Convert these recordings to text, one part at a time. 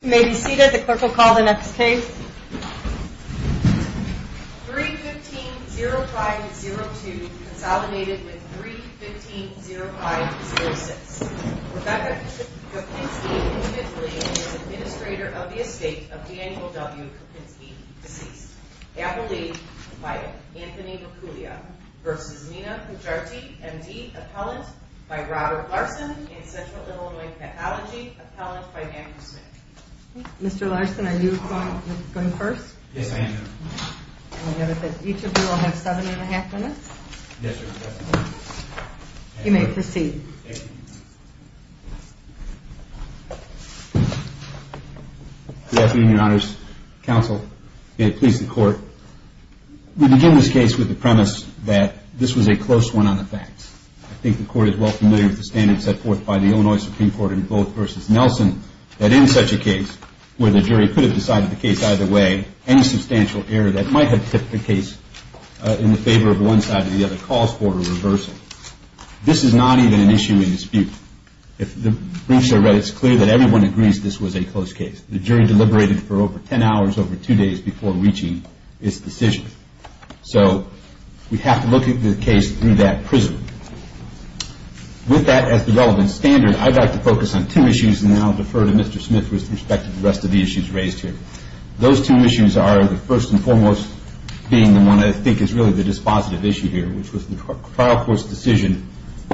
May be seated the clerk will call the next case. 315-0502 consolidated with 315-0506. Rebecca Kopinski was administrator of the estate of Daniel W. Kopinski, deceased. Anthony Mercullio v. Nina Pujarti, M.D. Appellant by Robert Larson and Central Illinois Pathology Appellant by Andrew Smith. Mr. Larson are you going first? Yes I am. Each of you will have seven and a half minutes. You may proceed. Good afternoon your honors, counsel, may it please the court. We begin this case with the premise that this was a close one on the facts. I think the court is well familiar with the standards set forth by the Illinois Supreme Court in Booth v. Nelson that in such a case where the jury could have decided the case either way, any substantial error that might have tipped the case in the favor of one side or the other calls for a reversal. This is not even an issue in dispute. The briefs I read it is clear that everyone agrees this was a close case. The jury deliberated for over ten hours over two days before reaching its decision. So we have to look at the case through that prism. With that as the relevant standard I would like to focus on two issues and then I will defer to Mr. Smith with respect to the rest of the issues raised here. Those two issues are the first and foremost being the one I think is really the dispositive issue here which was the trial court's decision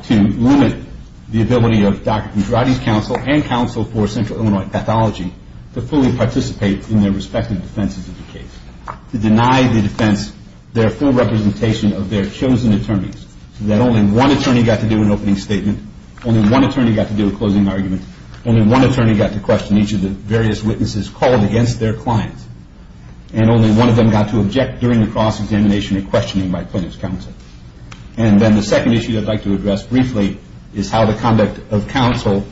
to limit the ability of Dr. Andrade's counsel and counsel for central Illinois pathology to fully participate in their respective defenses of the case. To deny the defense their full representation of their chosen attorneys. So that only one attorney got to do an opening statement. Only one attorney got to do a closing argument. Only one attorney got to question each of the various witnesses called against their clients. And only one of them got to object during the cross examination and questioning by Plaintiff's counsel. And then the second issue I would like to address briefly is how the conduct of counsel,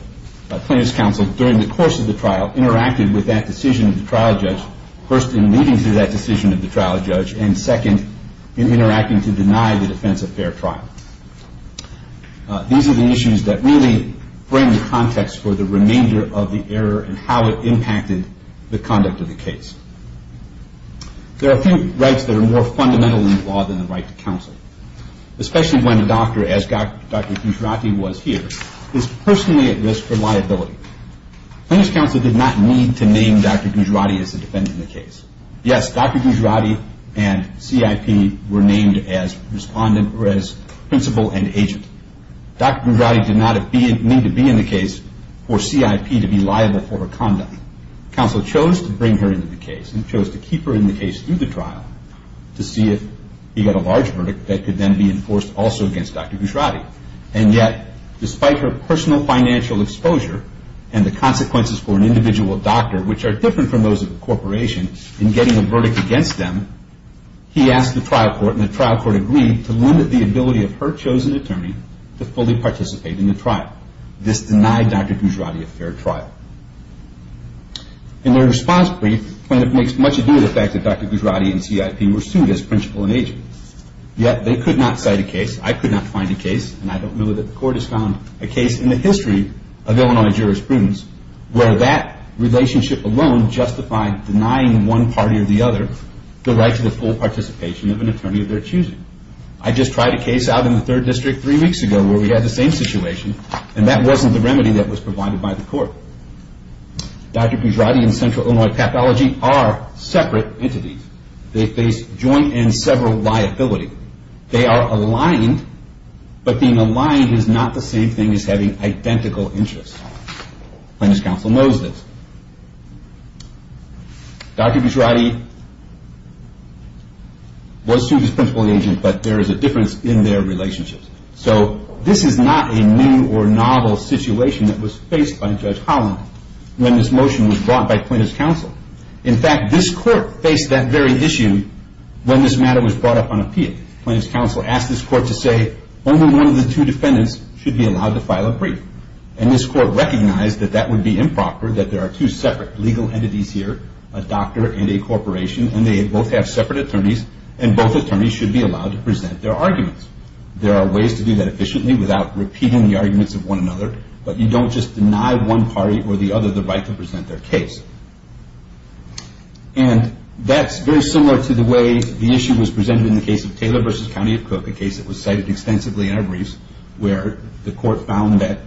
Plaintiff's counsel during the course of the trial interacted with that decision of the trial judge. First in leading to that decision of the trial judge and second in interacting to deny the defense a fair trial. These are the issues that really bring the context for the remainder of the error and how it impacted the conduct of the case. There are a few rights that are more fundamental in the law than the right to counsel. Especially when a doctor as Dr. Gujarati was here is personally at risk for liability. Plaintiff's counsel did not need to name Dr. Gujarati as the defendant in the case. Yes, Dr. Gujarati and CIP were named as principal and agent. Dr. Gujarati did not need to be in the case for CIP to be liable for her conduct. Counsel chose to bring her into the case and chose to keep her in the case through the trial to see if he got a large verdict that could then be enforced also against Dr. Gujarati. And yet despite her personal financial exposure and the consequences for an individual doctor which are different from those of a corporation in getting a verdict against them, he asked the trial court and the trial court agreed to limit the ability of her chosen attorney to fully participate in the trial. This denied Dr. Gujarati a fair trial. In their response brief, Plaintiff makes much of the fact that Dr. Gujarati and CIP were sued as principal and agent. Yet they could not cite a case, I could not find a case, and I don't know that the court has found a case in the history of Illinois jurisprudence where that relationship alone justified denying one party or the other the right to the full participation of an attorney of their choosing. I just tried a case out in the third district three weeks ago where we had the same situation and that wasn't the remedy that was provided by the court. Dr. Gujarati and CIP are separate entities. They face joint and several liability. They are aligned but being aligned is not the same thing as having identical interests. Plaintiff's counsel knows this. Dr. Gujarati was sued as principal and agent but there is a difference in their relationships. So this is not a new or novel situation that was faced by Judge Holland when this motion was brought by Plaintiff's counsel. In fact, this court faced that very issue when this matter was brought up on appeal. Plaintiff's counsel asked this court to say only one of the two defendants should be allowed to file a brief. And this court recognized that that would be improper, that there are two separate legal entities here, a doctor and a corporation, and they both have separate attorneys and both attorneys should be allowed to present their arguments. There are ways to do that efficiently without repeating the arguments of one another, but you don't just deny one party or the other the right to present their case. And that's very similar to the way the issue was presented in the case of Taylor v. County of Cook, a case that was cited extensively in our briefs where the court found that,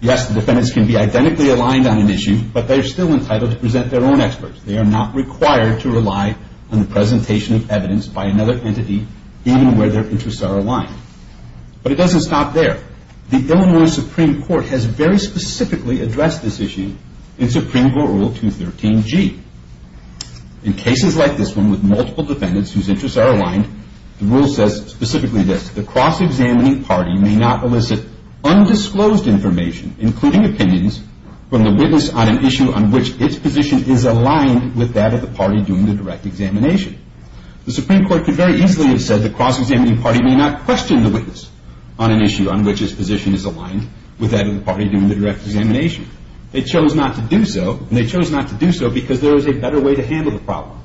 yes, the defendants can be identically aligned on an issue but they're still entitled to present their own experts. They are not required to rely on the presentation of evidence by another entity even where their interests are aligned. But it doesn't stop there. The Illinois Supreme Court has very specifically addressed this issue in Supreme Court Rule 213G. In cases like this one with multiple defendants whose interests are aligned, the rule says specifically this, the cross-examining party may not elicit undisclosed information, including opinions, from the witness on an issue on which its position is aligned with that of the party doing the direct examination. The Supreme Court could very easily have said the cross-examining party may not question the witness on an issue on which its position is aligned with that of the party doing the direct examination. They chose not to do so, and they chose not to do so because there is a better way to handle the problem.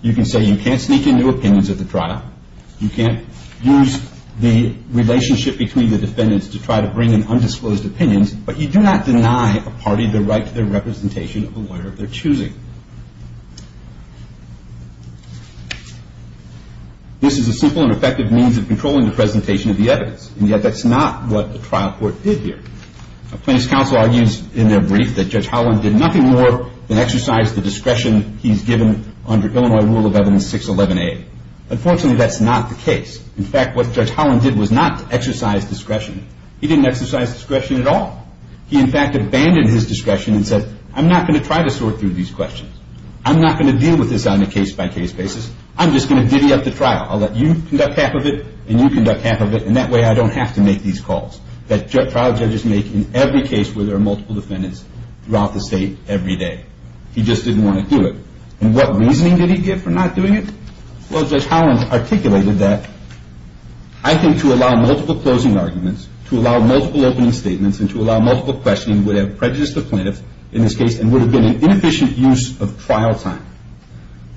You can say you can't sneak into opinions of the trial, you can't use the relationship between the defendants to try to bring in undisclosed opinions, but you do not deny a party the right to their representation of the lawyer of their choosing. This is a simple and effective means of controlling the presentation of the evidence, and yet that's not what the trial court did here. The plaintiff's counsel argues in their brief that Judge Holland did nothing more than exercise the discretion he's given under Illinois Rule of Evidence 611A. Unfortunately, that's not the case. In fact, what Judge Holland did was not exercise discretion. He didn't exercise discretion at all. He, in fact, abandoned his discretion and said, I'm not going to try to sort through these questions. I'm not going to deal with this on a case-by-case basis. I'm just going to divvy up the trial. I'll let you conduct half of it, and you conduct half of it, and that way I don't have to make these calls. That trial judges make in every case where there are multiple defendants throughout the state every day. He just didn't want to do it. And what reasoning did he give for not doing it? Well, Judge Holland articulated that, I think, to allow multiple closing arguments, to allow multiple opening statements, and to allow multiple questioning would have prejudiced the plaintiff, in this case, and would have been an inefficient use of trial time.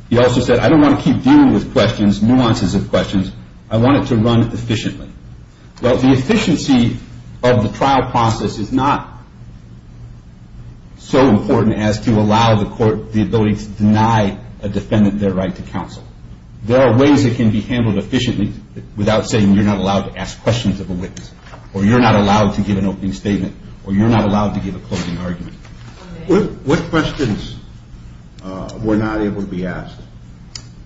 He also said, I don't want to keep dealing with questions, nuances of questions. I want it to run efficiently. Well, the efficiency of the trial process is not so important as to allow the court the ability to deny a defendant their right to counsel. There are ways it can be handled efficiently without saying you're not allowed to ask questions of a witness, or you're not allowed to give an opening statement, or you're not allowed to give a closing argument. What questions were not able to be asked?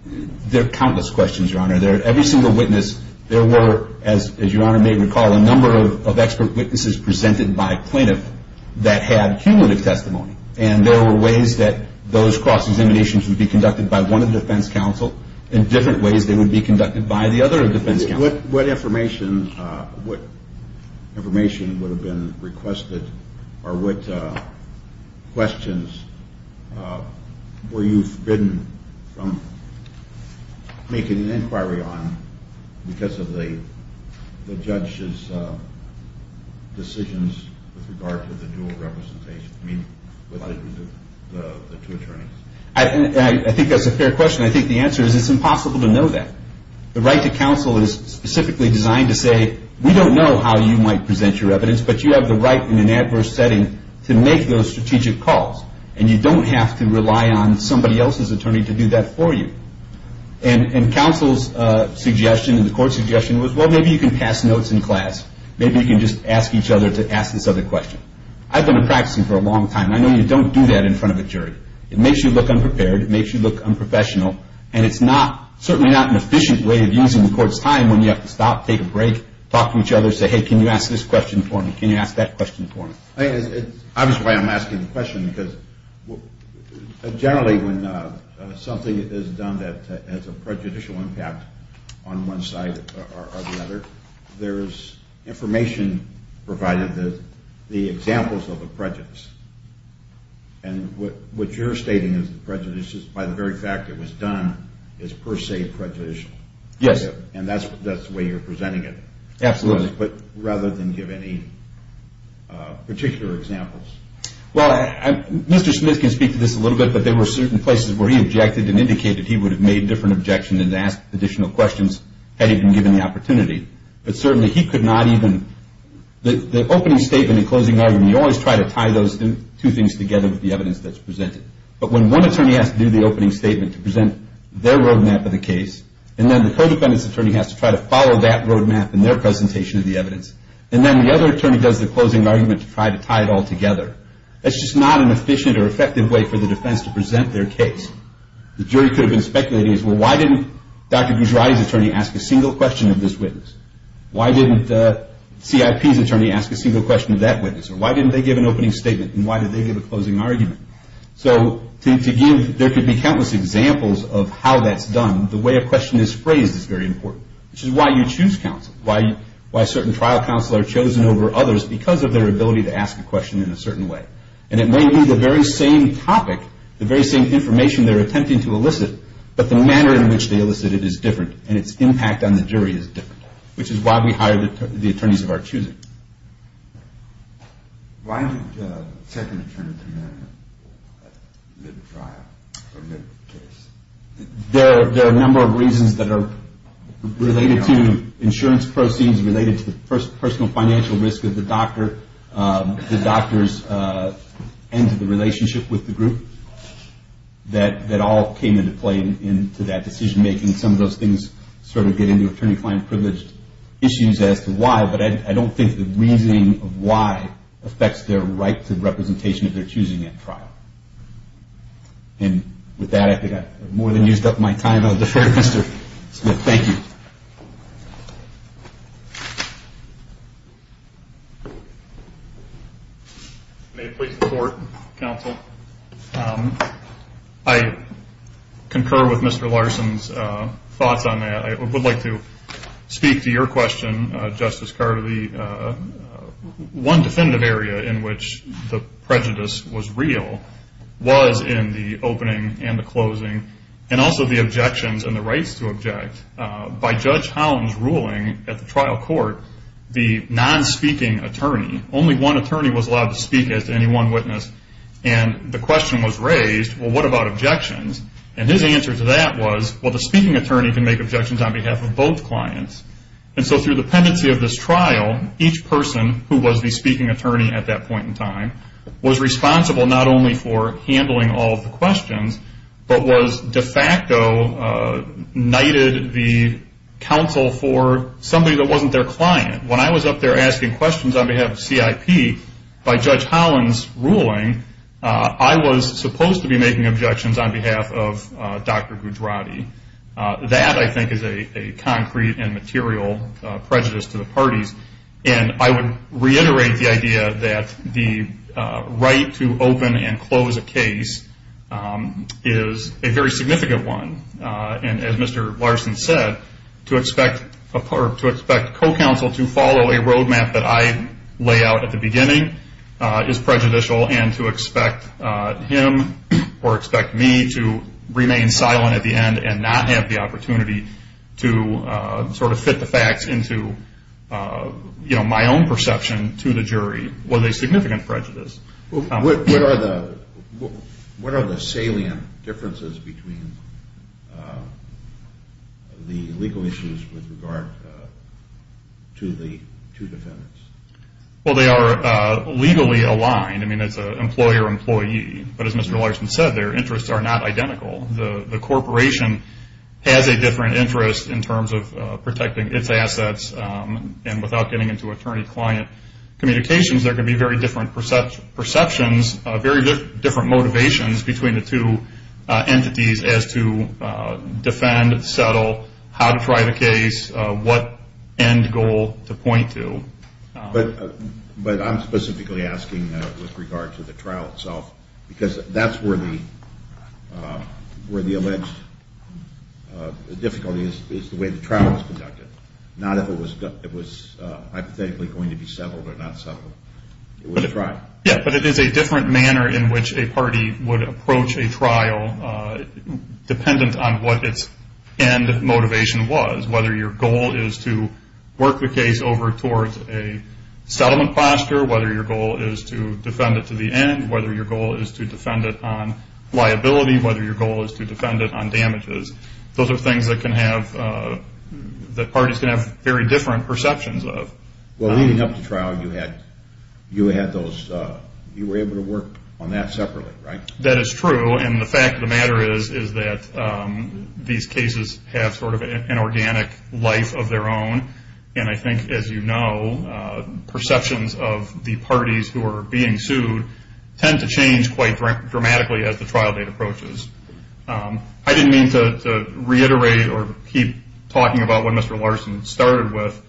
There are countless questions, Your Honor. Every single witness, there were, as Your Honor may recall, a number of expert witnesses presented by a plaintiff that had cumulative testimony, and there were ways that those cross-examinations would be conducted by one of the defense counsel, and different ways they would be conducted by the other defense counsel. What information would have been requested, or what questions were you forbidden from making an inquiry on because of the judge's decisions with regard to the dual representation, I mean, with the two attorneys? I think that's a fair question. I think the answer is it's impossible to know that. The right to counsel is specifically designed to say, we don't know how you might present your evidence, but you have the right in an adverse setting to make those strategic calls, and you don't have to rely on somebody else's attorney to do that for you. And counsel's suggestion and the court's suggestion was, well, maybe you can pass notes in class. Maybe you can just ask each other to ask this other question. I've been practicing for a long time. I know you don't do that in front of a jury. It makes you look unprepared. It makes you look unprofessional. And it's certainly not an efficient way of using the court's time when you have to stop, take a break, talk to each other, say, hey, can you ask this question for me? Can you ask that question for me? It's obvious why I'm asking the question because generally when something is done that has a prejudicial impact on one side or the other, there's information provided, the examples of the prejudice. And what you're stating is the prejudice is by the very fact it was done is per se prejudicial. Yes. And that's the way you're presenting it. Absolutely. But rather than give any particular examples. Well, Mr. Smith can speak to this a little bit, but there were certain places where he objected and indicated he would have made different objections and asked additional questions had he been given the opportunity. But certainly he could not even. The opening statement and closing argument, you always try to tie those two things together with the evidence that's presented. But when one attorney has to do the opening statement to present their road map of the case, and then the co-defendant's attorney has to try to follow that road map in their presentation of the evidence, and then the other attorney does the closing argument to try to tie it all together, that's just not an efficient or effective way for the defense to present their case. The jury could have been speculating as, well, why didn't Dr. Gujarati's attorney ask a single question of this witness? Why didn't CIP's attorney ask a single question of that witness? Or why didn't they give an opening statement, and why did they give a closing argument? So there could be countless examples of how that's done. The way a question is phrased is very important, which is why you choose counsel, why certain trial counsel are chosen over others because of their ability to ask a question in a certain way. And it may be the very same topic, the very same information they're attempting to elicit, but the manner in which they elicit it is different, and its impact on the jury is different, which is why we hire the attorneys of our choosing. Why didn't the second attorney come in for the trial or the case? There are a number of reasons that are related to insurance proceeds, the doctor's end to the relationship with the group, that all came into play into that decision-making. Some of those things sort of get into attorney-client privilege issues as to why, but I don't think the reasoning of why affects their right to representation of their choosing at trial. And with that, I think I've more than used up my time. May it please the court, counsel? I concur with Mr. Larson's thoughts on that. I would like to speak to your question, Justice Carter. One definitive area in which the prejudice was real was in the opening and the closing, and that was by Judge Holland's ruling at the trial court, the non-speaking attorney, only one attorney was allowed to speak as to any one witness, and the question was raised, well, what about objections? And his answer to that was, well, the speaking attorney can make objections on behalf of both clients. And so through the pendency of this trial, each person who was the speaking attorney at that point in time was responsible not only for handling all of the questions, but was de facto knighted the counsel for somebody that wasn't their client. When I was up there asking questions on behalf of CIP by Judge Holland's ruling, I was supposed to be making objections on behalf of Dr. Gujarati. That, I think, is a concrete and material prejudice to the parties, and I would reiterate the idea that the right to open and close a case is a very significant one, and as Mr. Larson said, to expect co-counsel to follow a road map that I lay out at the beginning is prejudicial, and to expect him or expect me to remain silent at the end and not have the opportunity to sort of fit the facts into my own perception to the jury was a significant prejudice. What are the salient differences between the legal issues with regard to the two defendants? Well, they are legally aligned. I mean, it's an employer-employee, but as Mr. Larson said, their interests are not identical. The corporation has a different interest in terms of protecting its assets, and without getting into attorney-client communications, there could be very different perceptions, very different motivations between the two entities as to defend, settle, how to try the case, what end goal to point to. But I'm specifically asking that with regard to the trial itself, because that's where the alleged difficulty is, is the way the trial is conducted, not if it was hypothetically going to be settled or not settled. Yeah, but it is a different manner in which a party would approach a trial dependent on what its end motivation was, whether your goal is to work the case over towards a settlement posture, whether your goal is to defend it to the end, whether your goal is to defend it on liability, whether your goal is to defend it on damages. Those are things that parties can have very different perceptions of. Well, leading up to trial, you were able to work on that separately, right? That is true, and the fact of the matter is that these cases have sort of an organic life of their own, and I think, as you know, perceptions of the parties who are being sued tend to change quite dramatically as the trial date approaches. I didn't mean to reiterate or keep talking about what Mr. Larson started with.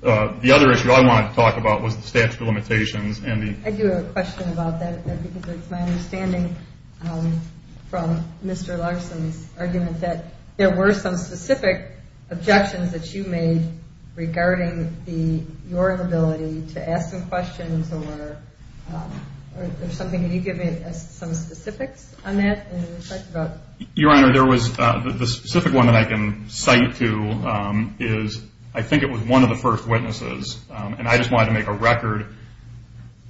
The other issue I wanted to talk about was the statute of limitations. I do have a question about that, because it's my understanding from Mr. Larson's argument that there were some specific objections that you made regarding your inability to ask some questions or something. Can you give me some specifics on that? Your Honor, the specific one that I can cite to is I think it was one of the first witnesses, and I just wanted to make a record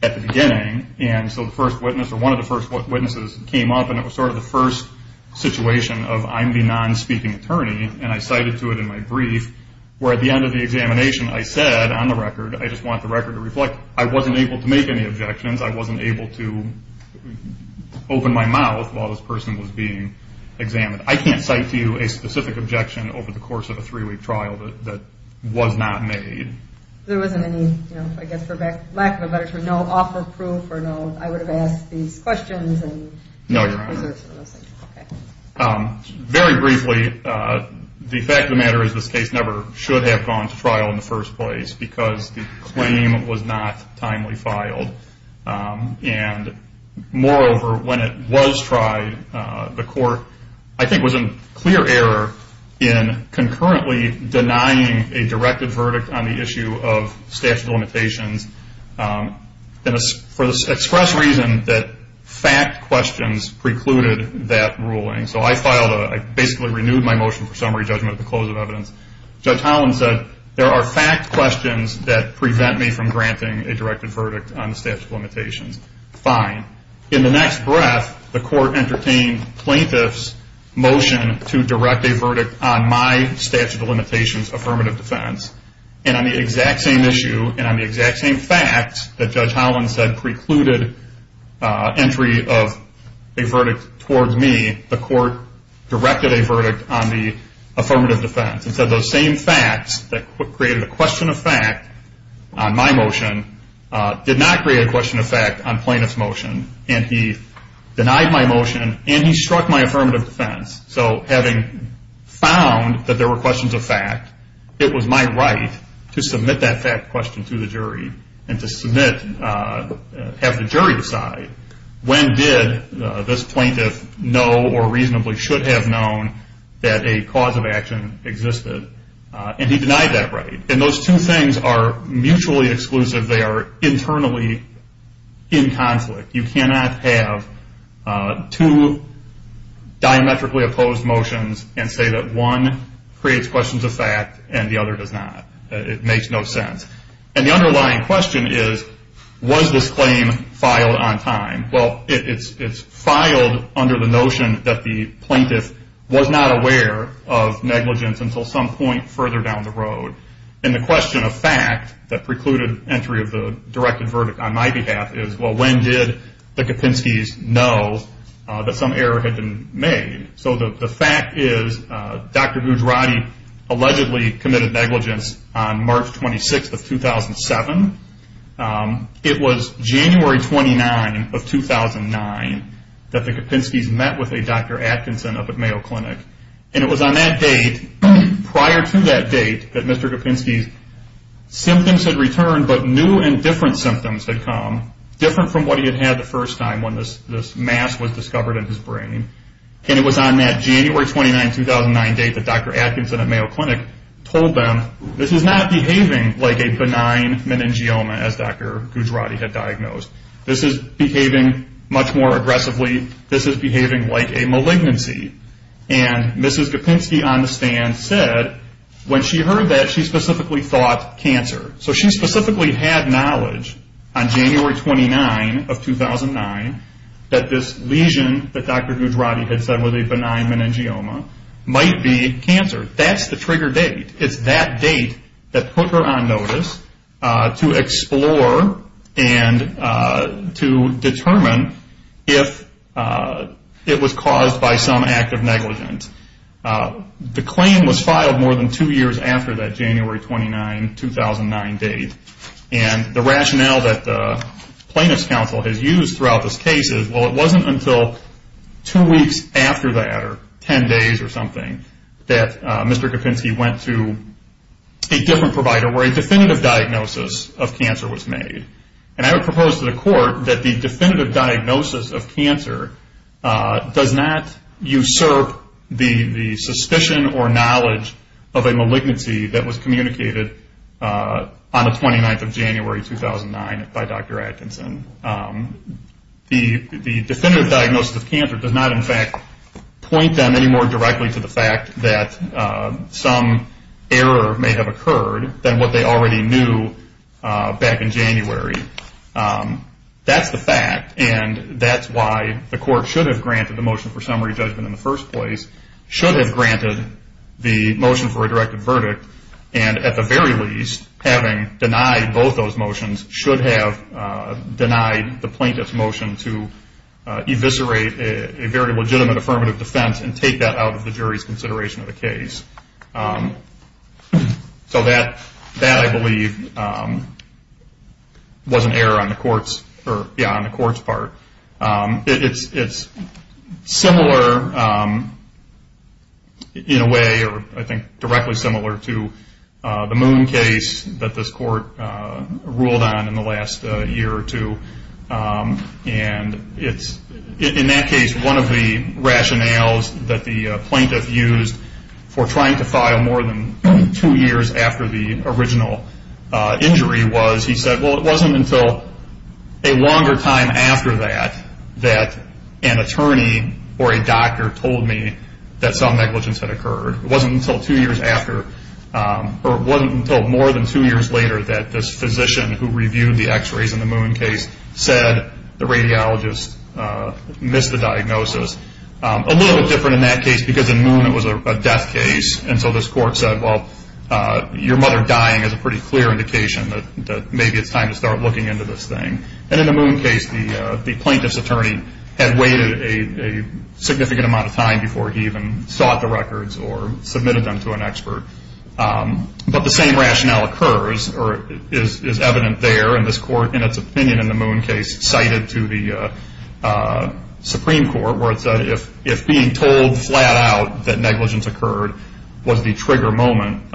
at the beginning, and so one of the first witnesses came up, and it was sort of the first situation of I'm the non-speaking attorney, and I cited to it in my brief, where at the end of the examination I said on the record, I just want the record to reflect, I wasn't able to make any objections, I wasn't able to open my mouth while this person was being examined. I can't cite to you a specific objection over the course of a three-week trial that was not made. There wasn't any, I guess for lack of a better term, no offer of proof, or I would have asked these questions. Very briefly, the fact of the matter is this case never should have gone to trial in the first place, because the claim was not timely filed. Moreover, when it was tried, the court I think was in clear error in concurrently denying a directed verdict on the issue of statute of limitations for the express reason that fact questions precluded that ruling. So I basically renewed my motion for summary judgment at the close of evidence. Judge Holland said there are fact questions that prevent me from granting a directed verdict on the statute of limitations. Fine. In the next breath, the court entertained plaintiff's motion to direct a verdict on my statute of limitations affirmative defense. And on the exact same issue, and on the exact same facts that Judge Holland said precluded entry of a verdict towards me, the court directed a verdict on the affirmative defense. And so those same facts that created a question of fact on my motion did not create a question of fact on plaintiff's motion. And he denied my motion, and he struck my affirmative defense. So having found that there were questions of fact, it was my right to submit that fact question to the jury and to have the jury decide when did this plaintiff know or reasonably should have known that a cause of action existed. And he denied that right. And those two things are mutually exclusive. They are internally in conflict. You cannot have two diametrically opposed motions and say that one creates questions of fact and the other does not. It makes no sense. And the underlying question is, was this claim filed on time? Well, it's filed under the notion that the plaintiff was not aware of negligence until some point further down the road. And the question of fact that precluded entry of the directed verdict on my behalf is, well, when did the Kapinskys know that some error had been made? So the fact is, Dr. Gujarati allegedly committed negligence on March 26, 2007. It was January 29 of 2009 that the Kapinskys met with a Dr. Atkinson up at Mayo Clinic. And it was on that date, prior to that date, that Mr. Kapinsky's symptoms had returned but new and different symptoms had come, different from what he had had the first time when this mass was discovered in his brain. And it was on that January 29, 2009 date that Dr. Atkinson at Mayo Clinic told them this is not behaving like a benign meningioma as Dr. Gujarati had diagnosed. This is behaving much more aggressively. This is behaving like a malignancy. And Mrs. Kapinsky on the stand said when she heard that, she specifically thought cancer. So she specifically had knowledge on January 29 of 2009 that this lesion that Dr. Gujarati had said was a benign meningioma might be cancer. That's the trigger date. It's that date that put her on notice to explore and to determine if it was caused by some act of negligence. The claim was filed more than two years after that January 29, 2009 date. And the rationale that the plaintiff's counsel has used throughout this case is, well, it wasn't until two weeks after that, or ten days or something, that Mr. Kapinsky went to a different provider where a definitive diagnosis of cancer was made. And I would propose to the court that the definitive diagnosis of cancer does not usurp the suspicion or knowledge of a malignancy that was communicated on the 29th of January 2009 by Dr. Atkinson. The definitive diagnosis of cancer does not, in fact, point them any more directly to the fact that some error may have occurred than what they already knew back in January. That's the fact, and that's why the court should have granted the motion for summary judgment in the first place, should have granted the motion for a directed verdict, and at the very least, having denied both those motions, should have denied the plaintiff's motion to eviscerate a very legitimate affirmative defense and take that out of the jury's consideration of the case. So that, I believe, was an error on the court's part. It's similar in a way, or I think directly similar to the Moon case that this court ruled on in the last year or two. In that case, one of the rationales that the plaintiff used for trying to file more than two years after the original injury was he said, well, it wasn't until a longer time after that that an attorney or a doctor told me that some negligence had occurred. It wasn't until more than two years later that this physician who reviewed the x-rays in the Moon case said, the radiologist missed the diagnosis. A little bit different in that case because in Moon it was a death case, and so this court said, well, your mother dying is a pretty clear indication that maybe it's time to start looking into this thing. And in the Moon case, the plaintiff's attorney had waited a significant amount of time before he even sought the records or submitted them to an expert. But the same rationale occurs or is evident there, and this court, in its opinion, in the Moon case, cited to the Supreme Court where it said, if being told flat out that negligence occurred was the trigger moment,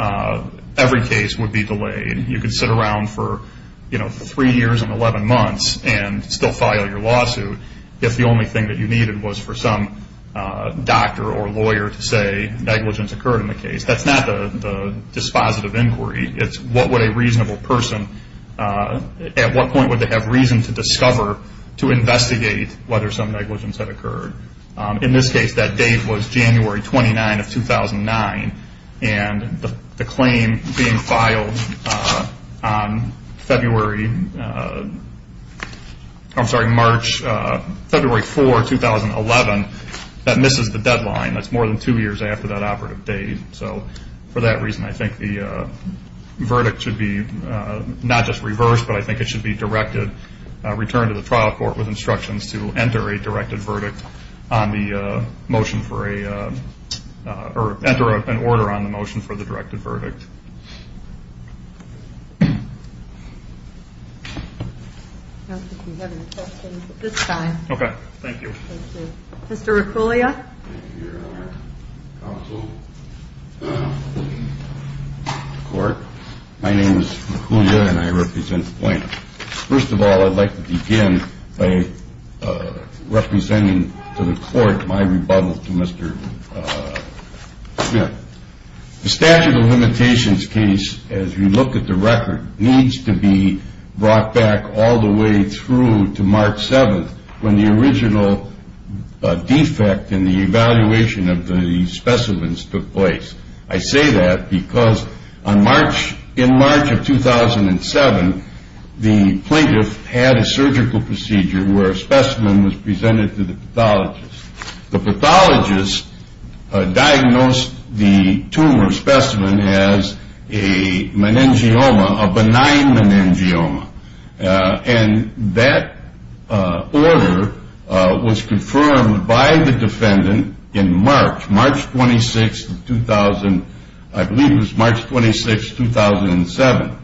every case would be delayed. You could sit around for three years and 11 months and still file your lawsuit if the only thing that you needed was for some doctor or lawyer to say negligence occurred in the case. That's not the dispositive inquiry. It's what would a reasonable person, at what point would they have reason to discover, to investigate whether some negligence had occurred. In this case, that date was January 29 of 2009, and the claim being filed on February, I'm sorry, March, February 4, 2011, that misses the deadline. That's more than two years after that operative date. So for that reason, I think the verdict should be not just reversed, but I think it should be directed, returned to the trial court with instructions to enter a directed verdict on the motion for a, or enter an order on the motion for the directed verdict. I don't think we have any questions at this time. Okay. Thank you. Mr. Riccolia. My name is Riccolia, and I represent Flint. First of all, I'd like to begin by representing to the court my rebuttal to Mr. Smith. The statute of limitations case, as we look at the record, needs to be brought back all the way through to March 7th, when the original defect in the evaluation of the specimens took place. I say that because on March, in March of 2007, the plaintiff had a surgical procedure where a specimen was presented to the pathologist. The pathologist diagnosed the tumor specimen as a meningioma, a benign meningioma. And that order was confirmed by the defendant in March, March 26, 2000, I believe it was March 26, 2007.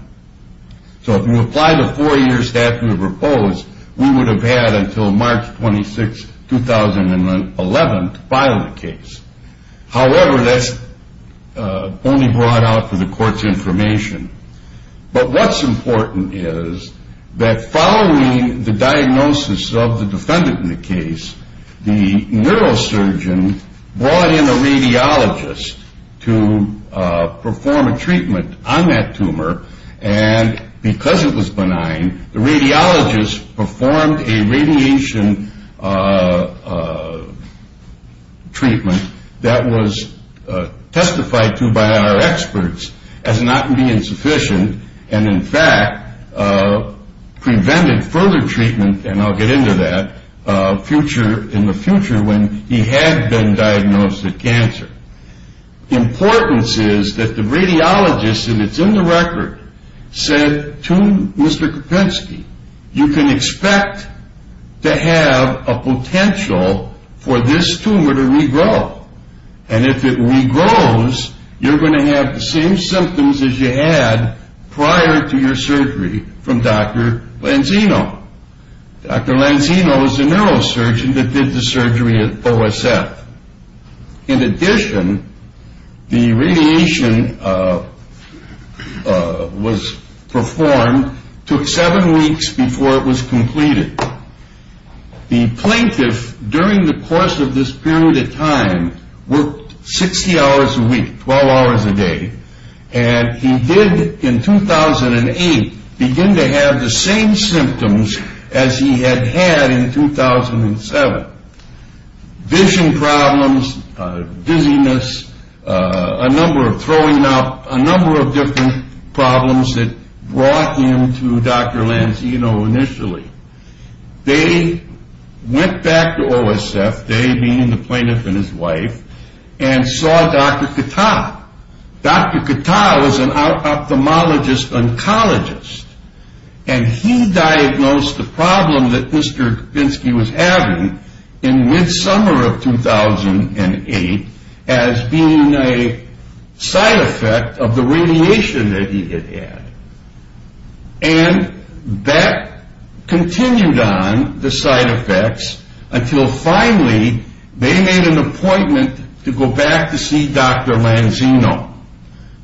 So if you apply the four years statute proposed, we would have had until March 26, 2011 to file the case. However, that's only brought out for the court's information. But what's important is that following the diagnosis of the defendant in the case, the neurosurgeon brought in a radiologist to perform a treatment on that tumor. And because it was a treatment that was testified to by our experts as not being sufficient, and in fact prevented further treatment, and I'll get into that, in the future when he had been diagnosed with cancer. The importance is that the radiologist, and it's in the record, said to Mr. Kropinski, you can expect to have a potential for this tumor to regrow. And if it regrows, you're going to have the same symptoms as you had prior to your surgery from Dr. Lanzino. Dr. Lanzino is the neurosurgeon that did the surgery at OSF. In addition, the radiation was performed, took seven weeks before it was completed. The plaintiff, during the course of this period of time, worked 60 hours a week, 12 hours a day. And he did, in 2008, begin to have the same symptoms as he had had in 2007. Vision problems, dizziness, a number of throwing up, a number of different problems that brought him to Dr. Lanzino initially. They went back to OSF, they being the plaintiff and his wife, and saw Dr. Kattah. Dr. Kattah was an ophthalmologist oncologist. And he diagnosed the problem that Mr. Kropinski was having in mid-summer of 2008 as being a side effect of the radiation that he had had. And that continued on, the side effects, until finally they made an appointment to go back to see Dr. Lanzino.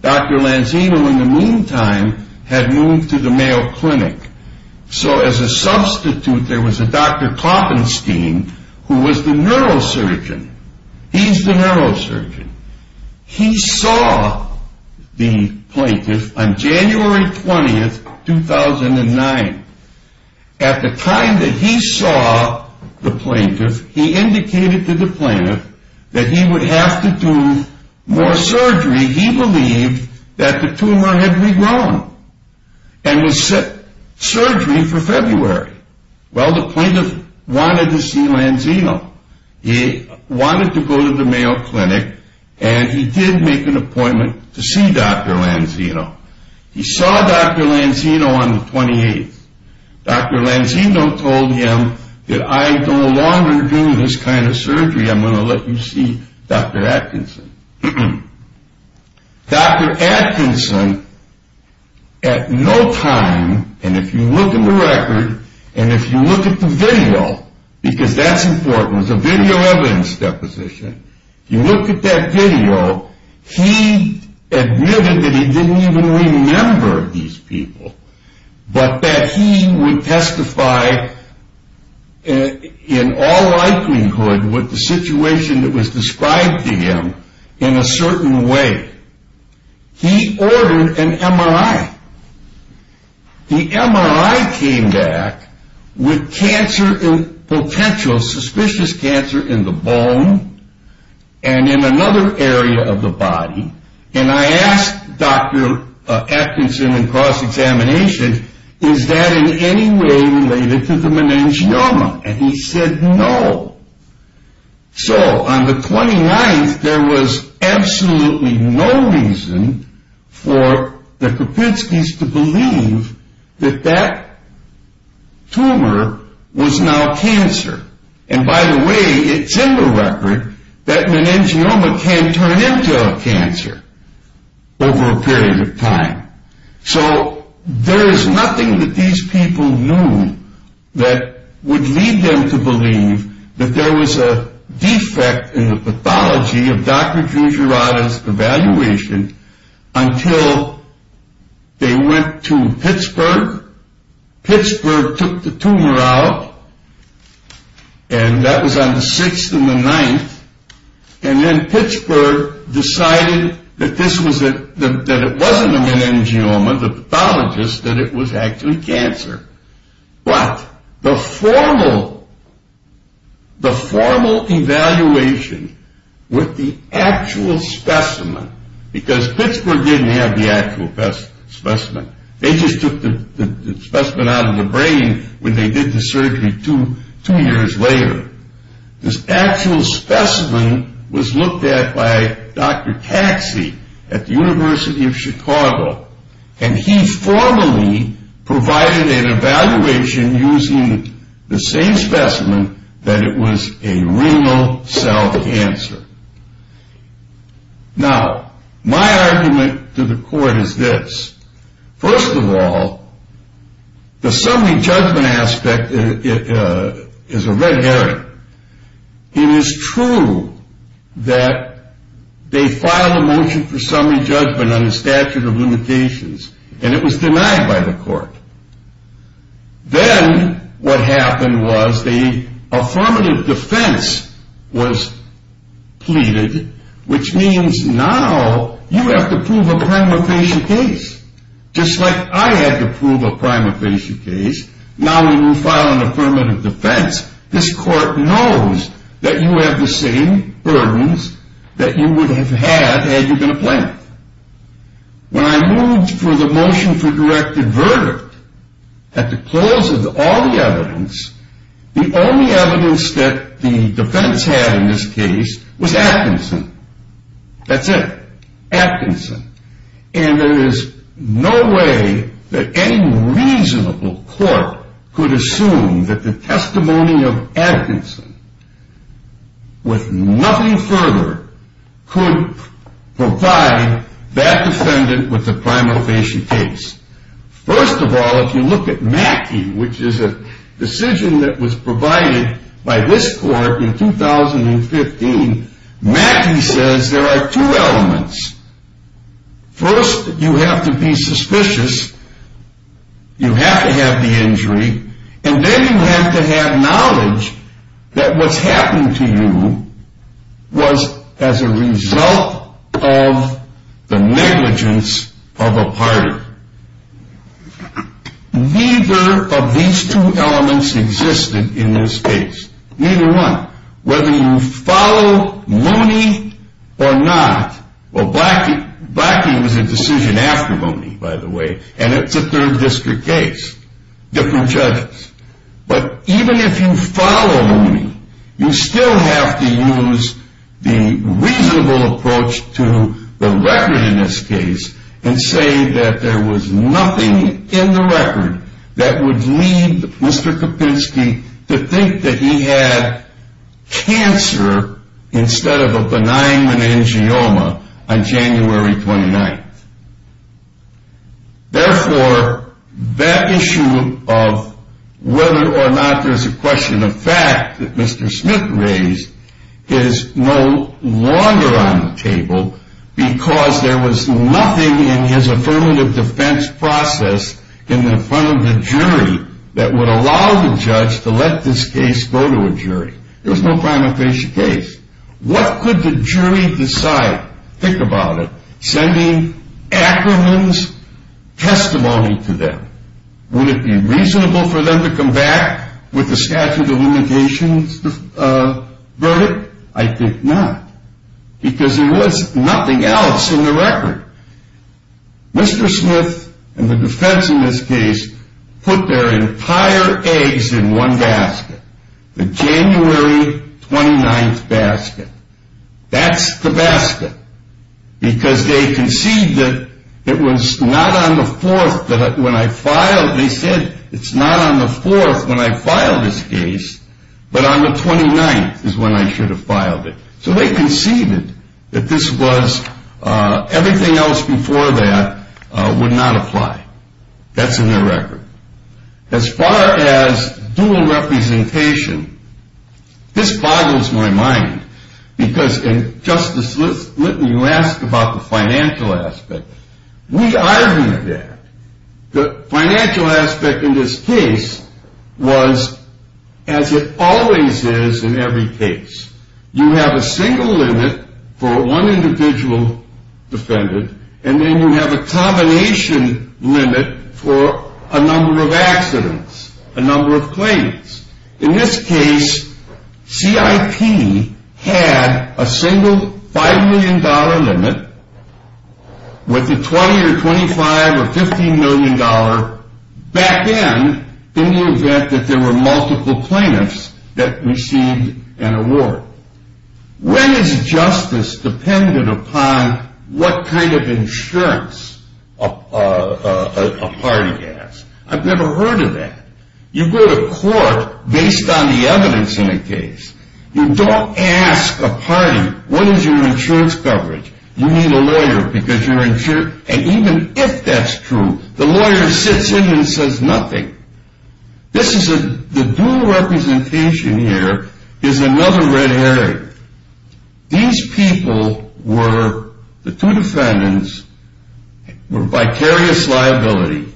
Dr. Lanzino, in the meantime, had moved to the Mayo Clinic. So as a substitute, there was a Dr. Koppenstein, who was the neurosurgeon. He's the neurosurgeon. He saw the plaintiff on January 20, 2009. At the time that he saw the plaintiff, he indicated to the plaintiff that the tumor had regrown and was set for surgery for February. Well, the plaintiff wanted to see Lanzino. He wanted to go to the Mayo Clinic, and he did make an appointment to see Dr. Lanzino. He saw Dr. Lanzino on the 28th. Dr. Lanzino told him that I no longer do this kind of surgery. I'm going to let you see Dr. Atkinson. Dr. Atkinson, at no time, and if you look at the record, and if you look at the video, because that's important, it was a video evidence deposition, you look at that video, he admitted that he didn't even remember these people, but that he would testify in all likelihood with the situation that was described to him in a certain way. He ordered an MRI. The MRI came back with cancer and potential suspicious cancer in the bone and in another area of the body, and I asked Dr. Atkinson in cross-examination, is that in any way related to the meningioma? And he said no. So, on the 29th, there was absolutely no reason for the Kapitskys to believe that that tumor was now cancer. And by the way, it's in the record that meningioma can turn into a cancer over a period of time. So, there is nothing that these people knew that would lead them to believe that there was a defect in the pathology of Dr. Giugiarotti's evaluation until they figured out, and that was on the 6th and the 9th, and then Pittsburgh decided that it wasn't a meningioma, the pathologist, that it was actually cancer. But the formal evaluation with the actual specimen, because Pittsburgh didn't have the actual specimen. They just took the specimen out of the brain when they did the surgery two years later. This actual specimen was looked at by Dr. Taxi at the University of Chicago, and he formally provided an evaluation using the same specimen that it was a renal cell cancer. Now, my argument to the court is this. First of all, the summary judgment aspect is a red herring. It is true that they filed a motion for summary judgment on the statute of limitations, and it was denied by the court. Then what happened was the affirmative defense was pleaded, which means now you have to prove a prima facie case, just like I had to prove a prima facie case. Now we will file an affirmative defense. This court knows that you have the same burdens that you would have had had you been a plaintiff. When I moved for the motion for directed verdict, at the close of all the evidence, the only evidence that the defense had in this case was Atkinson. That's it. Atkinson. And there is no way that any reasonable court could assume that the testimony of Atkinson, with nothing further, could provide that defendant with a prima facie case. First of all, if you look at Mackey, which is a decision that was provided by this court in 2015, Mackey says there are two elements. First, you have to be suspicious. You have to have the injury, and then you have to have knowledge that what's happening to you was as a result of the negligence of a partner. Neither of these two elements existed in this case. Neither one. Whether you follow Mooney or not, well, Blackie was a decision after Mooney, by the way, and it's a third district case. Different judges. But even if you follow Mooney, you still have to use the reasonable approach to the record in this case and say that there was nothing in the record that would lead Mr. Kapinski to think that he had cancer instead of a benign meningioma on January 29th. Therefore, that issue of whether or not there's a question of fact that Mr. Smith raised is no longer on the table because there was nothing in his affirmative defense process in front of the jury that would allow the judge to let this case go to a jury. There was no prima facie case. What could the jury decide? Think about it. Sending acrimonious testimony to them. Would it be reasonable for them to come back with a statute of limitations verdict? I think not. Because there was nothing else in the record. Mr. Smith and the defense in this case put their entire eggs in one basket. The January 29th basket. That's the basket. Because they conceded that it was not on the 4th that when I filed they said it's not on the 4th when I filed this case, but on the 29th is when I should have filed it. So they conceded that this was everything else before that would not apply. That's in their record. As far as dual representation, this boggles my mind because Justice Litton, you asked about the financial aspect. We argued that. The financial aspect in this case was as it always is in every case. You have a single limit for one individual defendant and then you have a combination limit for a number of accidents, a number of plaintiffs. In this case CIP had a single $5 million limit with a $20 or $25 or $15 million back end in the event that there were multiple plaintiffs that received an award. When is justice dependent upon what kind of insurance a party has? I've never heard of that. You go to court based on the evidence in a case. You don't ask a party, what is your insurance coverage? You need a lawyer because you're insured. And even if that's true, the lawyer sits in and says nothing. The dual representation here is another red herring. These people were the two defendants were vicarious liability.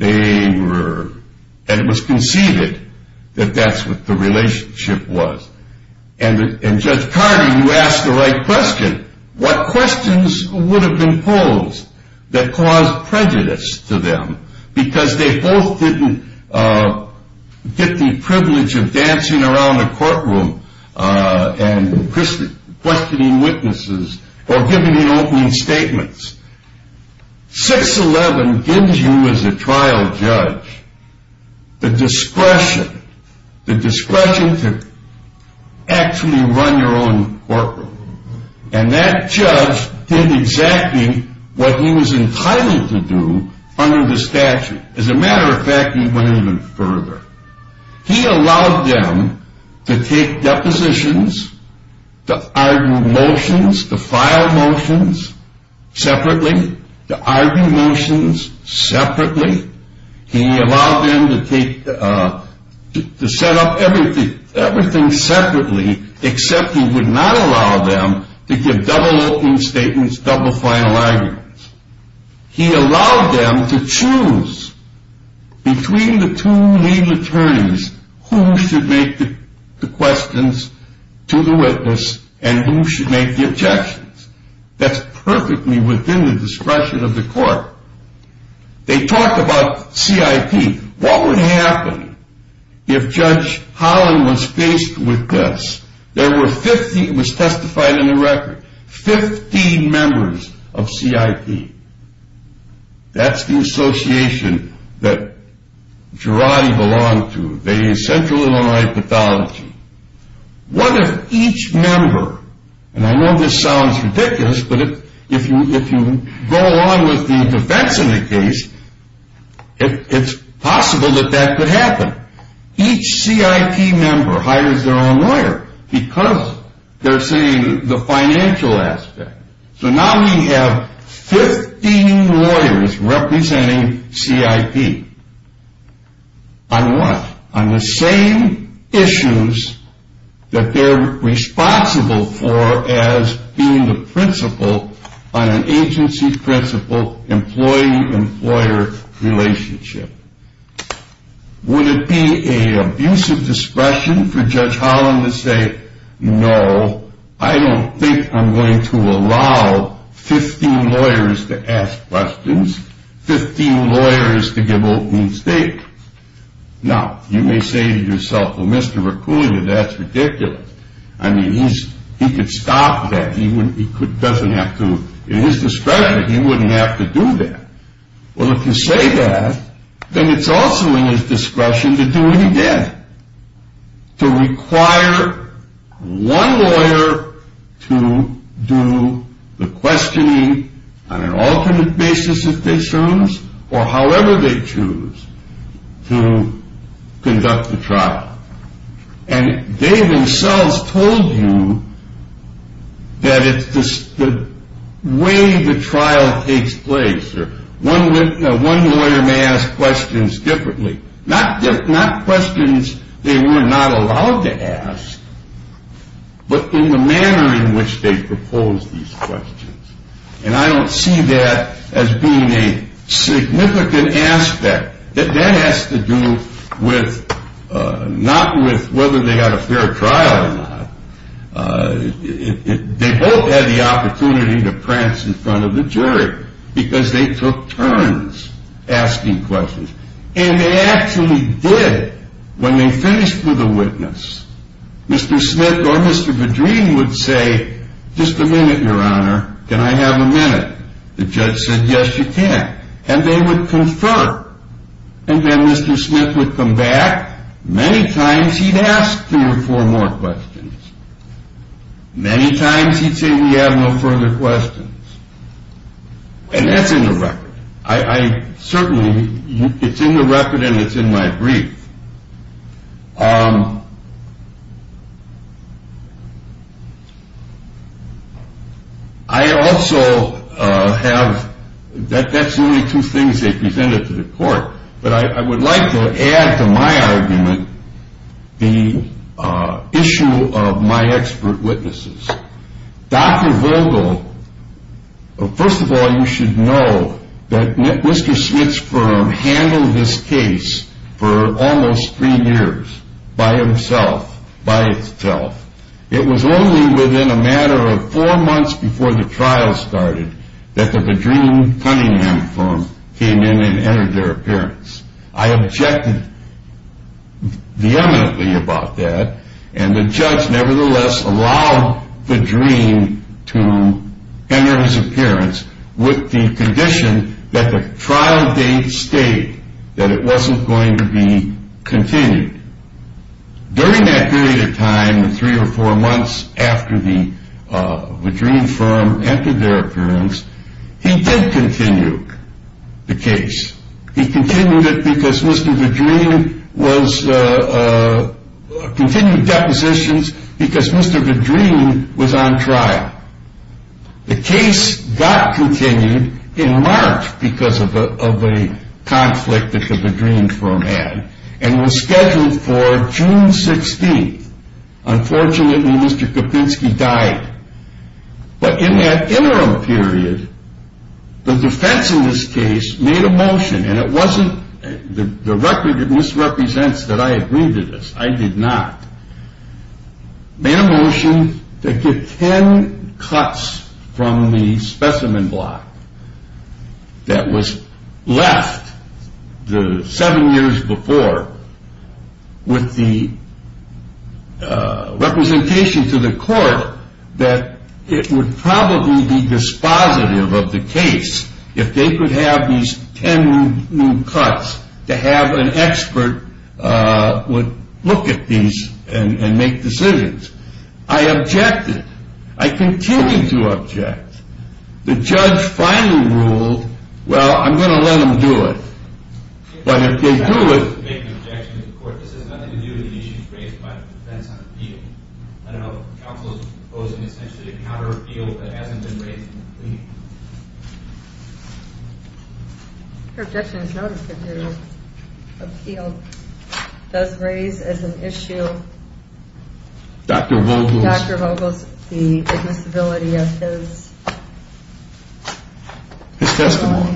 And it was conceded that that's what the relationship was. And Judge Carter, you asked the right question. What questions would have been posed that caused prejudice to them because they both didn't get the privilege of dancing around the courtroom and questioning witnesses or giving the opening statements. 611 gives you as a trial judge the discretion to actually run your own courtroom. And that judge did exactly what he was entitled to do under the statute. As a matter of fact, he went even further. He allowed them to take depositions, to argue motions, to file motions separately, to argue motions separately. He allowed them to set up everything separately except he would not allow them to give double opening statements, double final arguments. He allowed them to choose between the two legal attorneys who should make the questions to the witness and who should make the objections. That's perfectly within the discretion of the court. They talked about CIP. What would happen if Judge Holland was faced with this? There were 15, it was testified in the record, 15 members of CIP. That's the association that what if each member, and I know this sounds ridiculous, but if you go on with the defense of the case, it's possible that that could happen. Each CIP member hires their own lawyer because they're seeing the financial aspect. So now we have 15 lawyers representing CIP. On what? On the same issues that they're responsible for as being the principal on an agency-principal-employee-employer relationship. Would it be an abusive discretion for Judge Holland to say, no, I don't think I'm going to allow 15 lawyers to ask questions, 15 lawyers to give open state? Now, you may say to yourself, well, Mr. Raccoon, that's ridiculous. I mean, he could stop that. He doesn't have to, in his discretion, he wouldn't have to do that. Well, if you say that, then it's also in his discretion to do it again, to require one lawyer to do the questioning on an alternate basis, if they choose, or however they choose to conduct the trial. And they themselves told you that it's the way the trial takes place. One lawyer may ask questions differently. Not questions they were not allowed to ask, but in the manner in which they proposed these questions. And I don't see that as being a significant aspect. That has to do with not with whether they got a fair trial or not. They both had the opportunity to prance in And they actually did. When they finished with a witness, Mr. Smith or Mr. Vadreen would say, just a minute, Your Honor. Can I have a minute? The judge said, yes, you can. And they would confer. And then Mr. Smith would come back. Many times he'd ask three or four more questions. Many times he'd say, we have no further questions. And that's in the record. It's in the record and it's in my brief. I also have, that's only two things they presented to the court. But I would like to add to my argument the issue of my expert witnesses. Dr. Vogel, first of all, you should know that Mr. Smith's firm handled this case for almost three years by himself. It was only within a matter of four months before the trial started that the Vadreen Cunningham firm came in and entered their appearance. I objected vehemently about that and the judge nevertheless allowed Vadreen to enter his appearance with the condition that the trial date stayed, that it wasn't going to be continued. During that period of time, three or four months after the Vadreen firm entered their because Mr. Vadreen was, continued depositions because Mr. Vadreen was on trial. The case got continued in March because of a conflict that the Vadreen firm had and was scheduled for June 16th. Unfortunately, Mr. Kapinski died. But in that interim period, the defense in this case made a motion and it wasn't, the record misrepresents that I agreed to this. I did not. Made a motion to get ten cuts from the specimen block that was left the seven years before with the representation to the court that it would probably be dispositive of the case if they could have these ten new cuts to have an expert would look at these and make decisions. I objected. I continued to object. The judge finally ruled, well, I'm going to let them do it. But if they do it I would make an objection to the court. This has nothing to do with the issues raised by the defense on appeal. I don't know if counsel is proposing essentially to counter appeal that hasn't been raised in the plea. Your objection is noted that your appeal does raise as an issue Dr. Vogles the admissibility of his testimony. I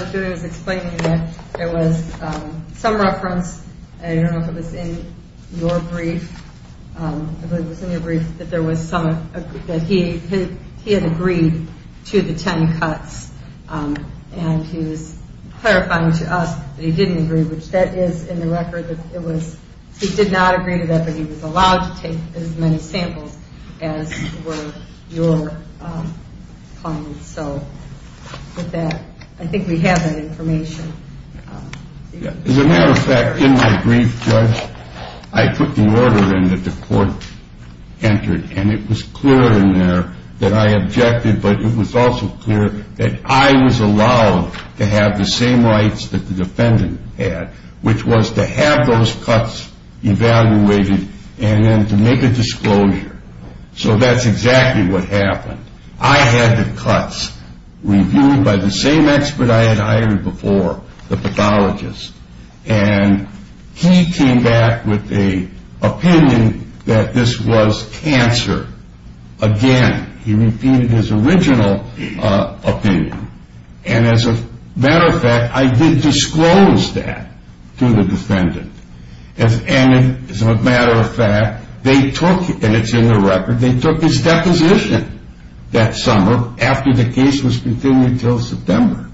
think I was explaining that there was some reference I don't know if it was in your brief that he had agreed to the ten cuts and he was clarifying to us that he didn't agree, which that is in the record that he did not agree to that but he was allowed to take as many samples as were your clients. I think we have that information. As a matter of fact, in my brief, Judge, I put the order in that the court entered and it was clear in there that I objected but it was also clear that I was allowed to have the same rights that the defendant had which was to have those cuts evaluated and then to make a review by the same expert I had hired before, the pathologist and he came back with the opinion that this was cancer. Again, he repeated his original opinion and as a matter of fact, I did disclose that to the defendant and as a matter of fact, they took, and it's in the record, they took his deposition that summer after the case was continued until September.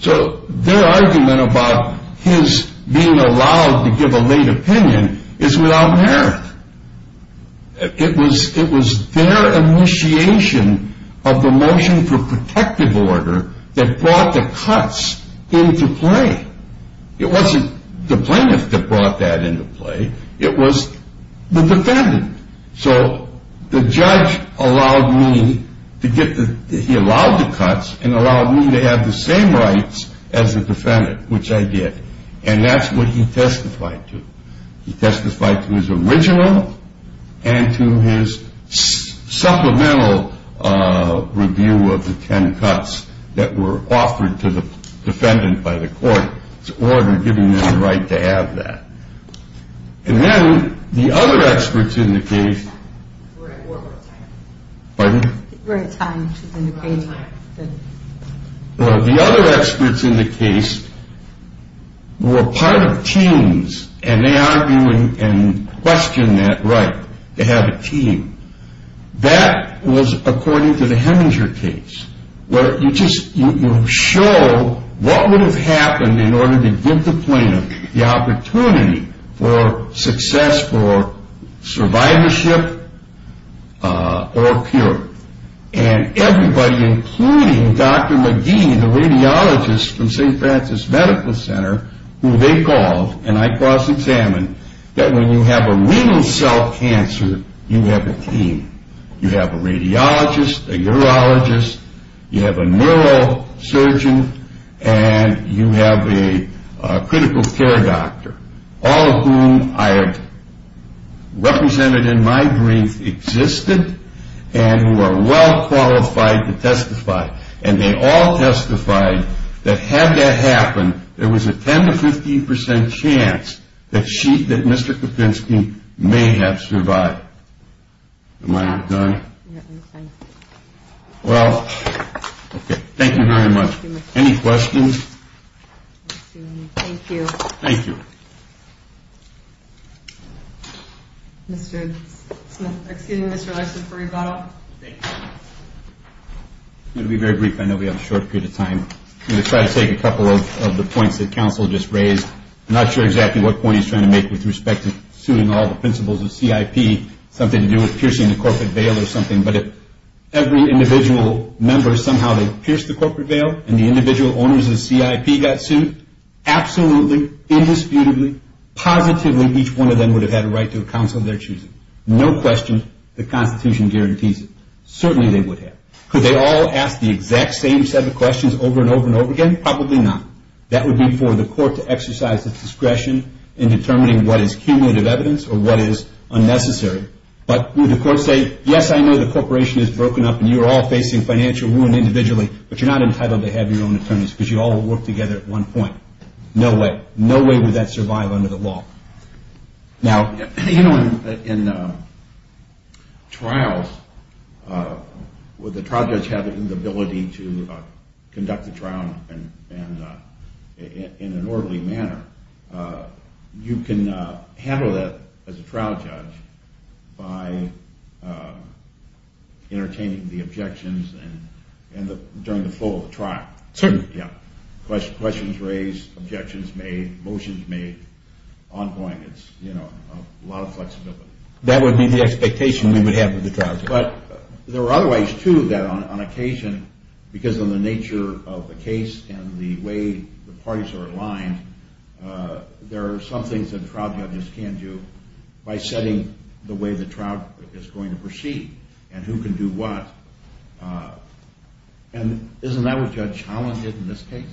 So their argument about his being allowed to give a late opinion is without merit. It was their initiation of the motion for protective order that brought the cuts into play. It wasn't the plaintiff that brought that into play, it was the defendant. So the judge allowed me to get the, he allowed the cuts and allowed me to have the same rights as the defendant which I did and that's what he testified to. He testified to his original and to his supplemental review of the ten cuts that were offered to the defendant by the court to order giving them the right to have that. And then the other experts in the case, pardon? The other experts in the case were part of teams and they argued and questioned that right to have a team. That was according to the Heminger case where you just, you show what would have happened in order to give the plaintiff the opportunity for success for survivorship or cure. And everybody including Dr. McGee, the radiologist from St. Francis Medical Center who they called and I cross examined that when you have a renal cell cancer you have a team. You have a radiologist, a urologist, you have a neurosurgeon and you have a critical care doctor. All of whom I have represented in my brief existed and who are well qualified to testify and they all testified that had that happened there was a 10 to 15 percent chance that Mr. Kopinski may have survived. Am I out of time? Well, thank you very much. Any questions? Thank you. Mr. Smith, excuse me Mr. Larson for rebuttal. It will be very brief. I know we have a short period of time. I'm going to try to take a couple of the points that counsel just raised. I'm not sure exactly what point he's trying to make with respect to suing all the principals of CIP. Something to do with piercing the corporate veil or something. But if every individual member somehow pierced the corporate veil and the individual owners of CIP got sued, absolutely, indisputably, positively each one of them would have had a right to a counsel of their choosing. No question. The Constitution guarantees it. Certainly they would have. Could they all ask the exact same set of questions over and over and over again? Probably not. That would be for the court to exercise its discretion in determining what is cumulative evidence or what is unnecessary. But would the court say, yes, I know the corporation is broken up and you're all facing financial wound individually, but you're not entitled to have your own attorneys because you all worked together at one point. No way. No way would that survive under the law. In trials, would the trial judge have the ability to conduct the trial in an orderly manner? You can handle that as a trial judge by entertaining the objections during the full trial. Certainly. Questions raised, objections made, motions made, ongoing. It's a lot of flexibility. That would be the expectation we would have of the trial judge. But there are other ways, too, that on occasion, because of the nature of the case and the way the parties are aligned, there are some things that trial judges can do by setting the way the trial is going to proceed and who can do what. And isn't that what Judge Holland did in this case?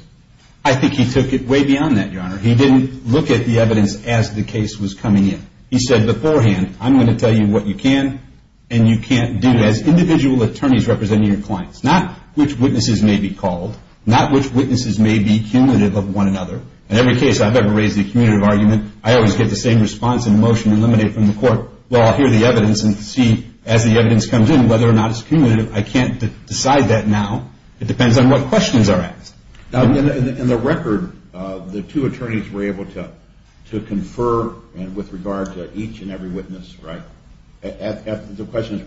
I think he took it way beyond that, Your Honor. He didn't look at the evidence as the case was coming in. He said beforehand, I'm going to tell you what you can and you can't do as individual attorneys representing your clients. Not which witnesses may be called. Not which witnesses may be cumulative of one another. In every case I've ever raised a cumulative argument, I always get the same response in a motion eliminated from the court. Well, I'll hear the evidence and see as the evidence comes in whether or not it's cumulative. I can't decide that now. It depends on what questions are asked. In the record, the two attorneys were able to answer questions that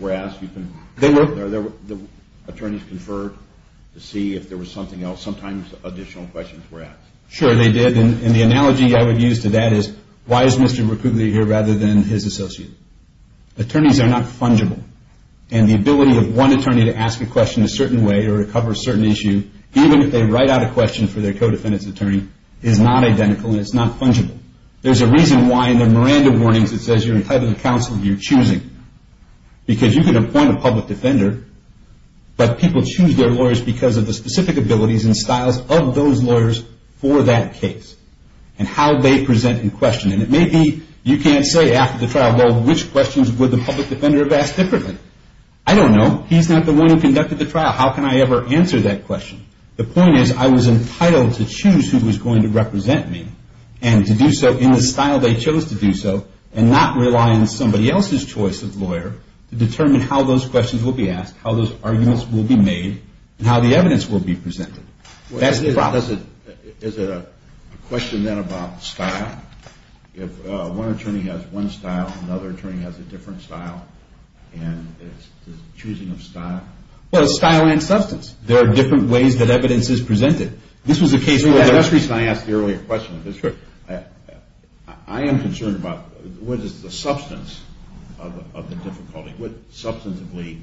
were asked. The attorneys conferred to see if there was something else. Sometimes additional questions were asked. Sure, they did. And the analogy I would use to that is why is Mr. McCougley here rather than his associate? Attorneys are not fungible. And the ability of one attorney to ask a question a certain way or to cover a certain issue, even if they write out a question for their co-defendant's attorney, is not identical and it's not fungible. There's a reason why in the Miranda warnings it says you're entitled to counsel if you're choosing. Because you can appoint a public defender, but people choose their lawyers because of the specific abilities and styles of those lawyers for that case and how they present the question. And it may be you can't say after the trial, well, which questions would the public defender have asked differently? I don't know. He's not the one who conducted the trial. How can I ever answer that question? The point is I was entitled to choose who was going to represent me and to do so in the style they chose to do so and not rely on somebody else's choice of lawyer to determine how those questions will be asked, how those arguments will be made, and how the evidence will be presented. That's the problem. Is it a question then about style? If one attorney has one style, another attorney has a different style, and it's the choosing of style? Well, it's style and substance. There are different ways that evidence is presented. This was the case earlier. That's the reason I asked the earlier question. I am concerned about what is the substance of the difficulty, what substantively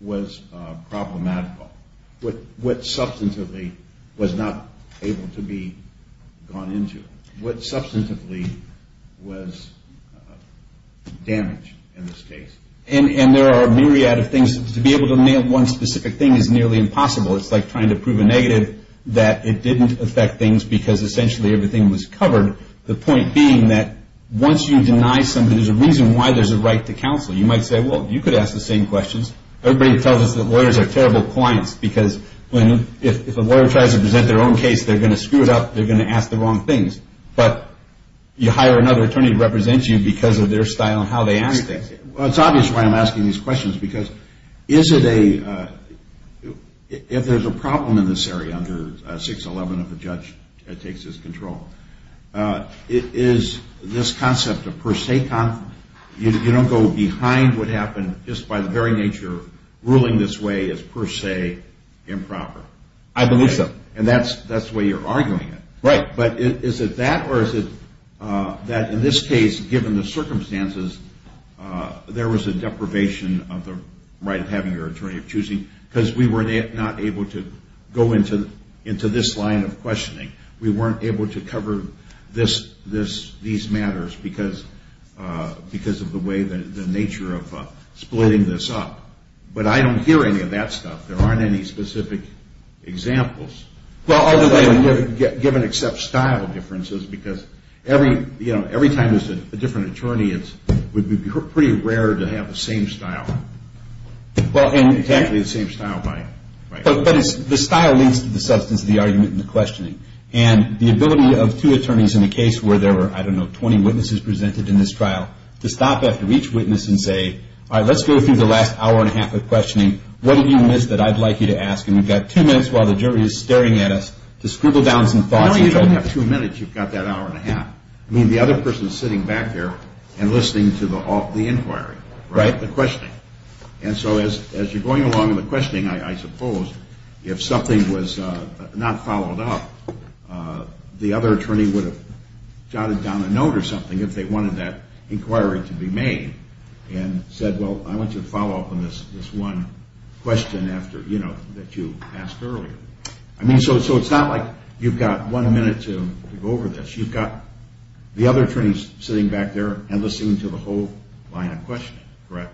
was problematical, what substantively was not able to be gone into, what substantively was damaged in this case? And there are a myriad of things. To be able to nail one specific thing is nearly impossible. It's like trying to prove a negative that it didn't affect things because essentially everything was covered. The point being that once you deny something, there's a reason why there's a right to counsel. You might say, well, you could ask the same questions. Everybody tells us that lawyers are going to ask the wrong things, but you hire another attorney to represent you because of their style and how they ask things. Well, it's obvious why I'm asking these questions, because is it a... if there's a problem in this area under 611, if a judge takes this control, is this concept of per se... you don't go behind what happened just by the very nature of ruling this way as per se improper? I believe so. And that's the way you're arguing it. Right. But is it that or is it that in this case, given the circumstances, there was a deprivation of the right of having your attorney of choosing because we were not able to go into this line of questioning. We weren't able to cover these matters because of the nature of splitting this up. But I don't hear any of that stuff. There aren't any specific examples. Given except style differences, because every time there's a different attorney, it would be pretty rare to have the same style. It's actually the same style by... But the style leads to the substance of the argument and the questioning. And the ability of two attorneys in a case where there were, I don't know, 20 witnesses presented in this trial to stop after each witness and say, all right, let's go through the last hour and a half of questioning. What did you miss that I'd like you to ask? And we've got two minutes while the jury is staring at us to scribble down some thoughts. You don't have two minutes. You've got that hour and a half. I mean, the other person is sitting back there and listening to the inquiry, right? The questioning. And so as you're going along in the questioning, I suppose, if something was not followed up, the other attorney would have jotted down a note or something if they wanted that inquiry to be made and said, well, I want you to follow up on this one question that you asked earlier. I mean, so it's not like you've got one minute to go over this. You've got the other attorneys sitting back there and listening to the whole line of questioning, correct?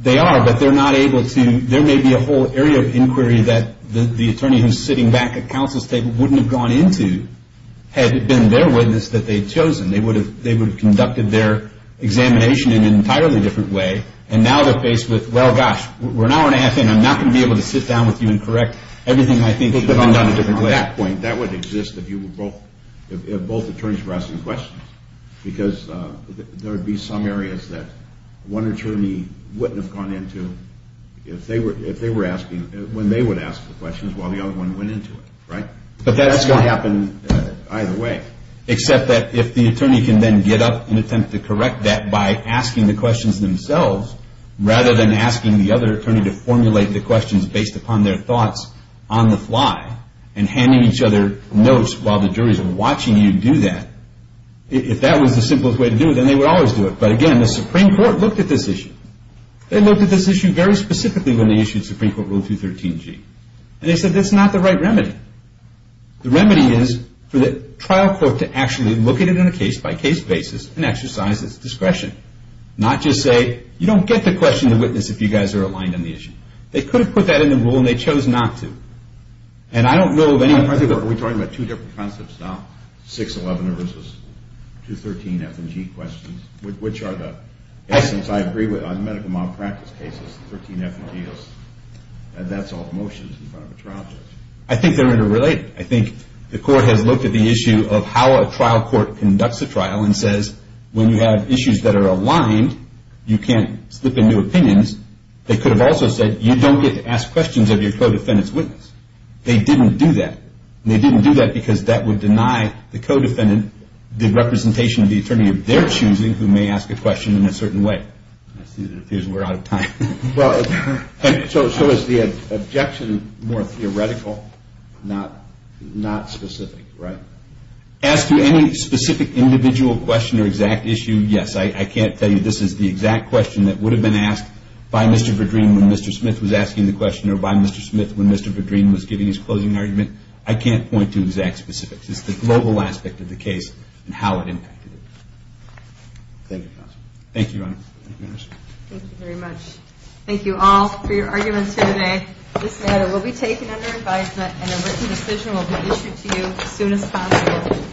They are, but they're not able to. There may be a whole area of inquiry that the attorney who's sitting back at counsel's table wouldn't have gone into had it been their witness that they'd chosen. They would have conducted their examination in an entirely different way. And now they're faced with, well, gosh, we're an hour and a half in. I'm not going to be able to sit down with you and correct everything I think should have been done in a different way. If both attorneys were asking questions, because there would be some areas that one attorney wouldn't have gone into if they were asking, when they would ask the questions while the other one went into it, right? That's going to happen either way. Except that if the attorney can then get up and attempt to correct that by asking the questions themselves rather than asking the other attorney to formulate the questions based upon their thoughts on the fly and handing each other notes while the juries are watching you do that, if that was the simplest way to do it, then they would always do it. But again, the Supreme Court looked at this issue. They looked at this issue very specifically when they issued Supreme Court Rule 213G. And they said that's not the right remedy. The remedy is for the trial court to actually look at it on a case-by-case basis and exercise its discretion. Not just say, you don't get the question to witness if you guys are aligned on the issue. They could have put that in the rule and they chose not to. Are we talking about two different concepts now? 611 versus 213F&G questions? Which are the medical malpractice cases, the 13F&Gs, and that's all motions in front of a trial judge? I think they're interrelated. I think the court has looked at the issue of how a trial court conducts a trial and says when you have issues that are aligned, you can't slip into opinions. They could have also said you don't get to ask questions of your co-defendant's witness. They didn't do that. And they didn't do that because that would deny the co-defendant the representation of the attorney of their choosing who may ask a question in a certain way. I see that it appears we're out of time. So is the objection more theoretical, not specific, right? As to any specific individual question or exact issue, yes. I can't tell you this is the exact question that would have been asked by Mr. Verdreen when Mr. Smith was asking the question or by Mr. Smith when Mr. Verdreen was giving his closing argument. I can't point to exact specifics. It's just the global aspect of the case and how it impacted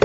it.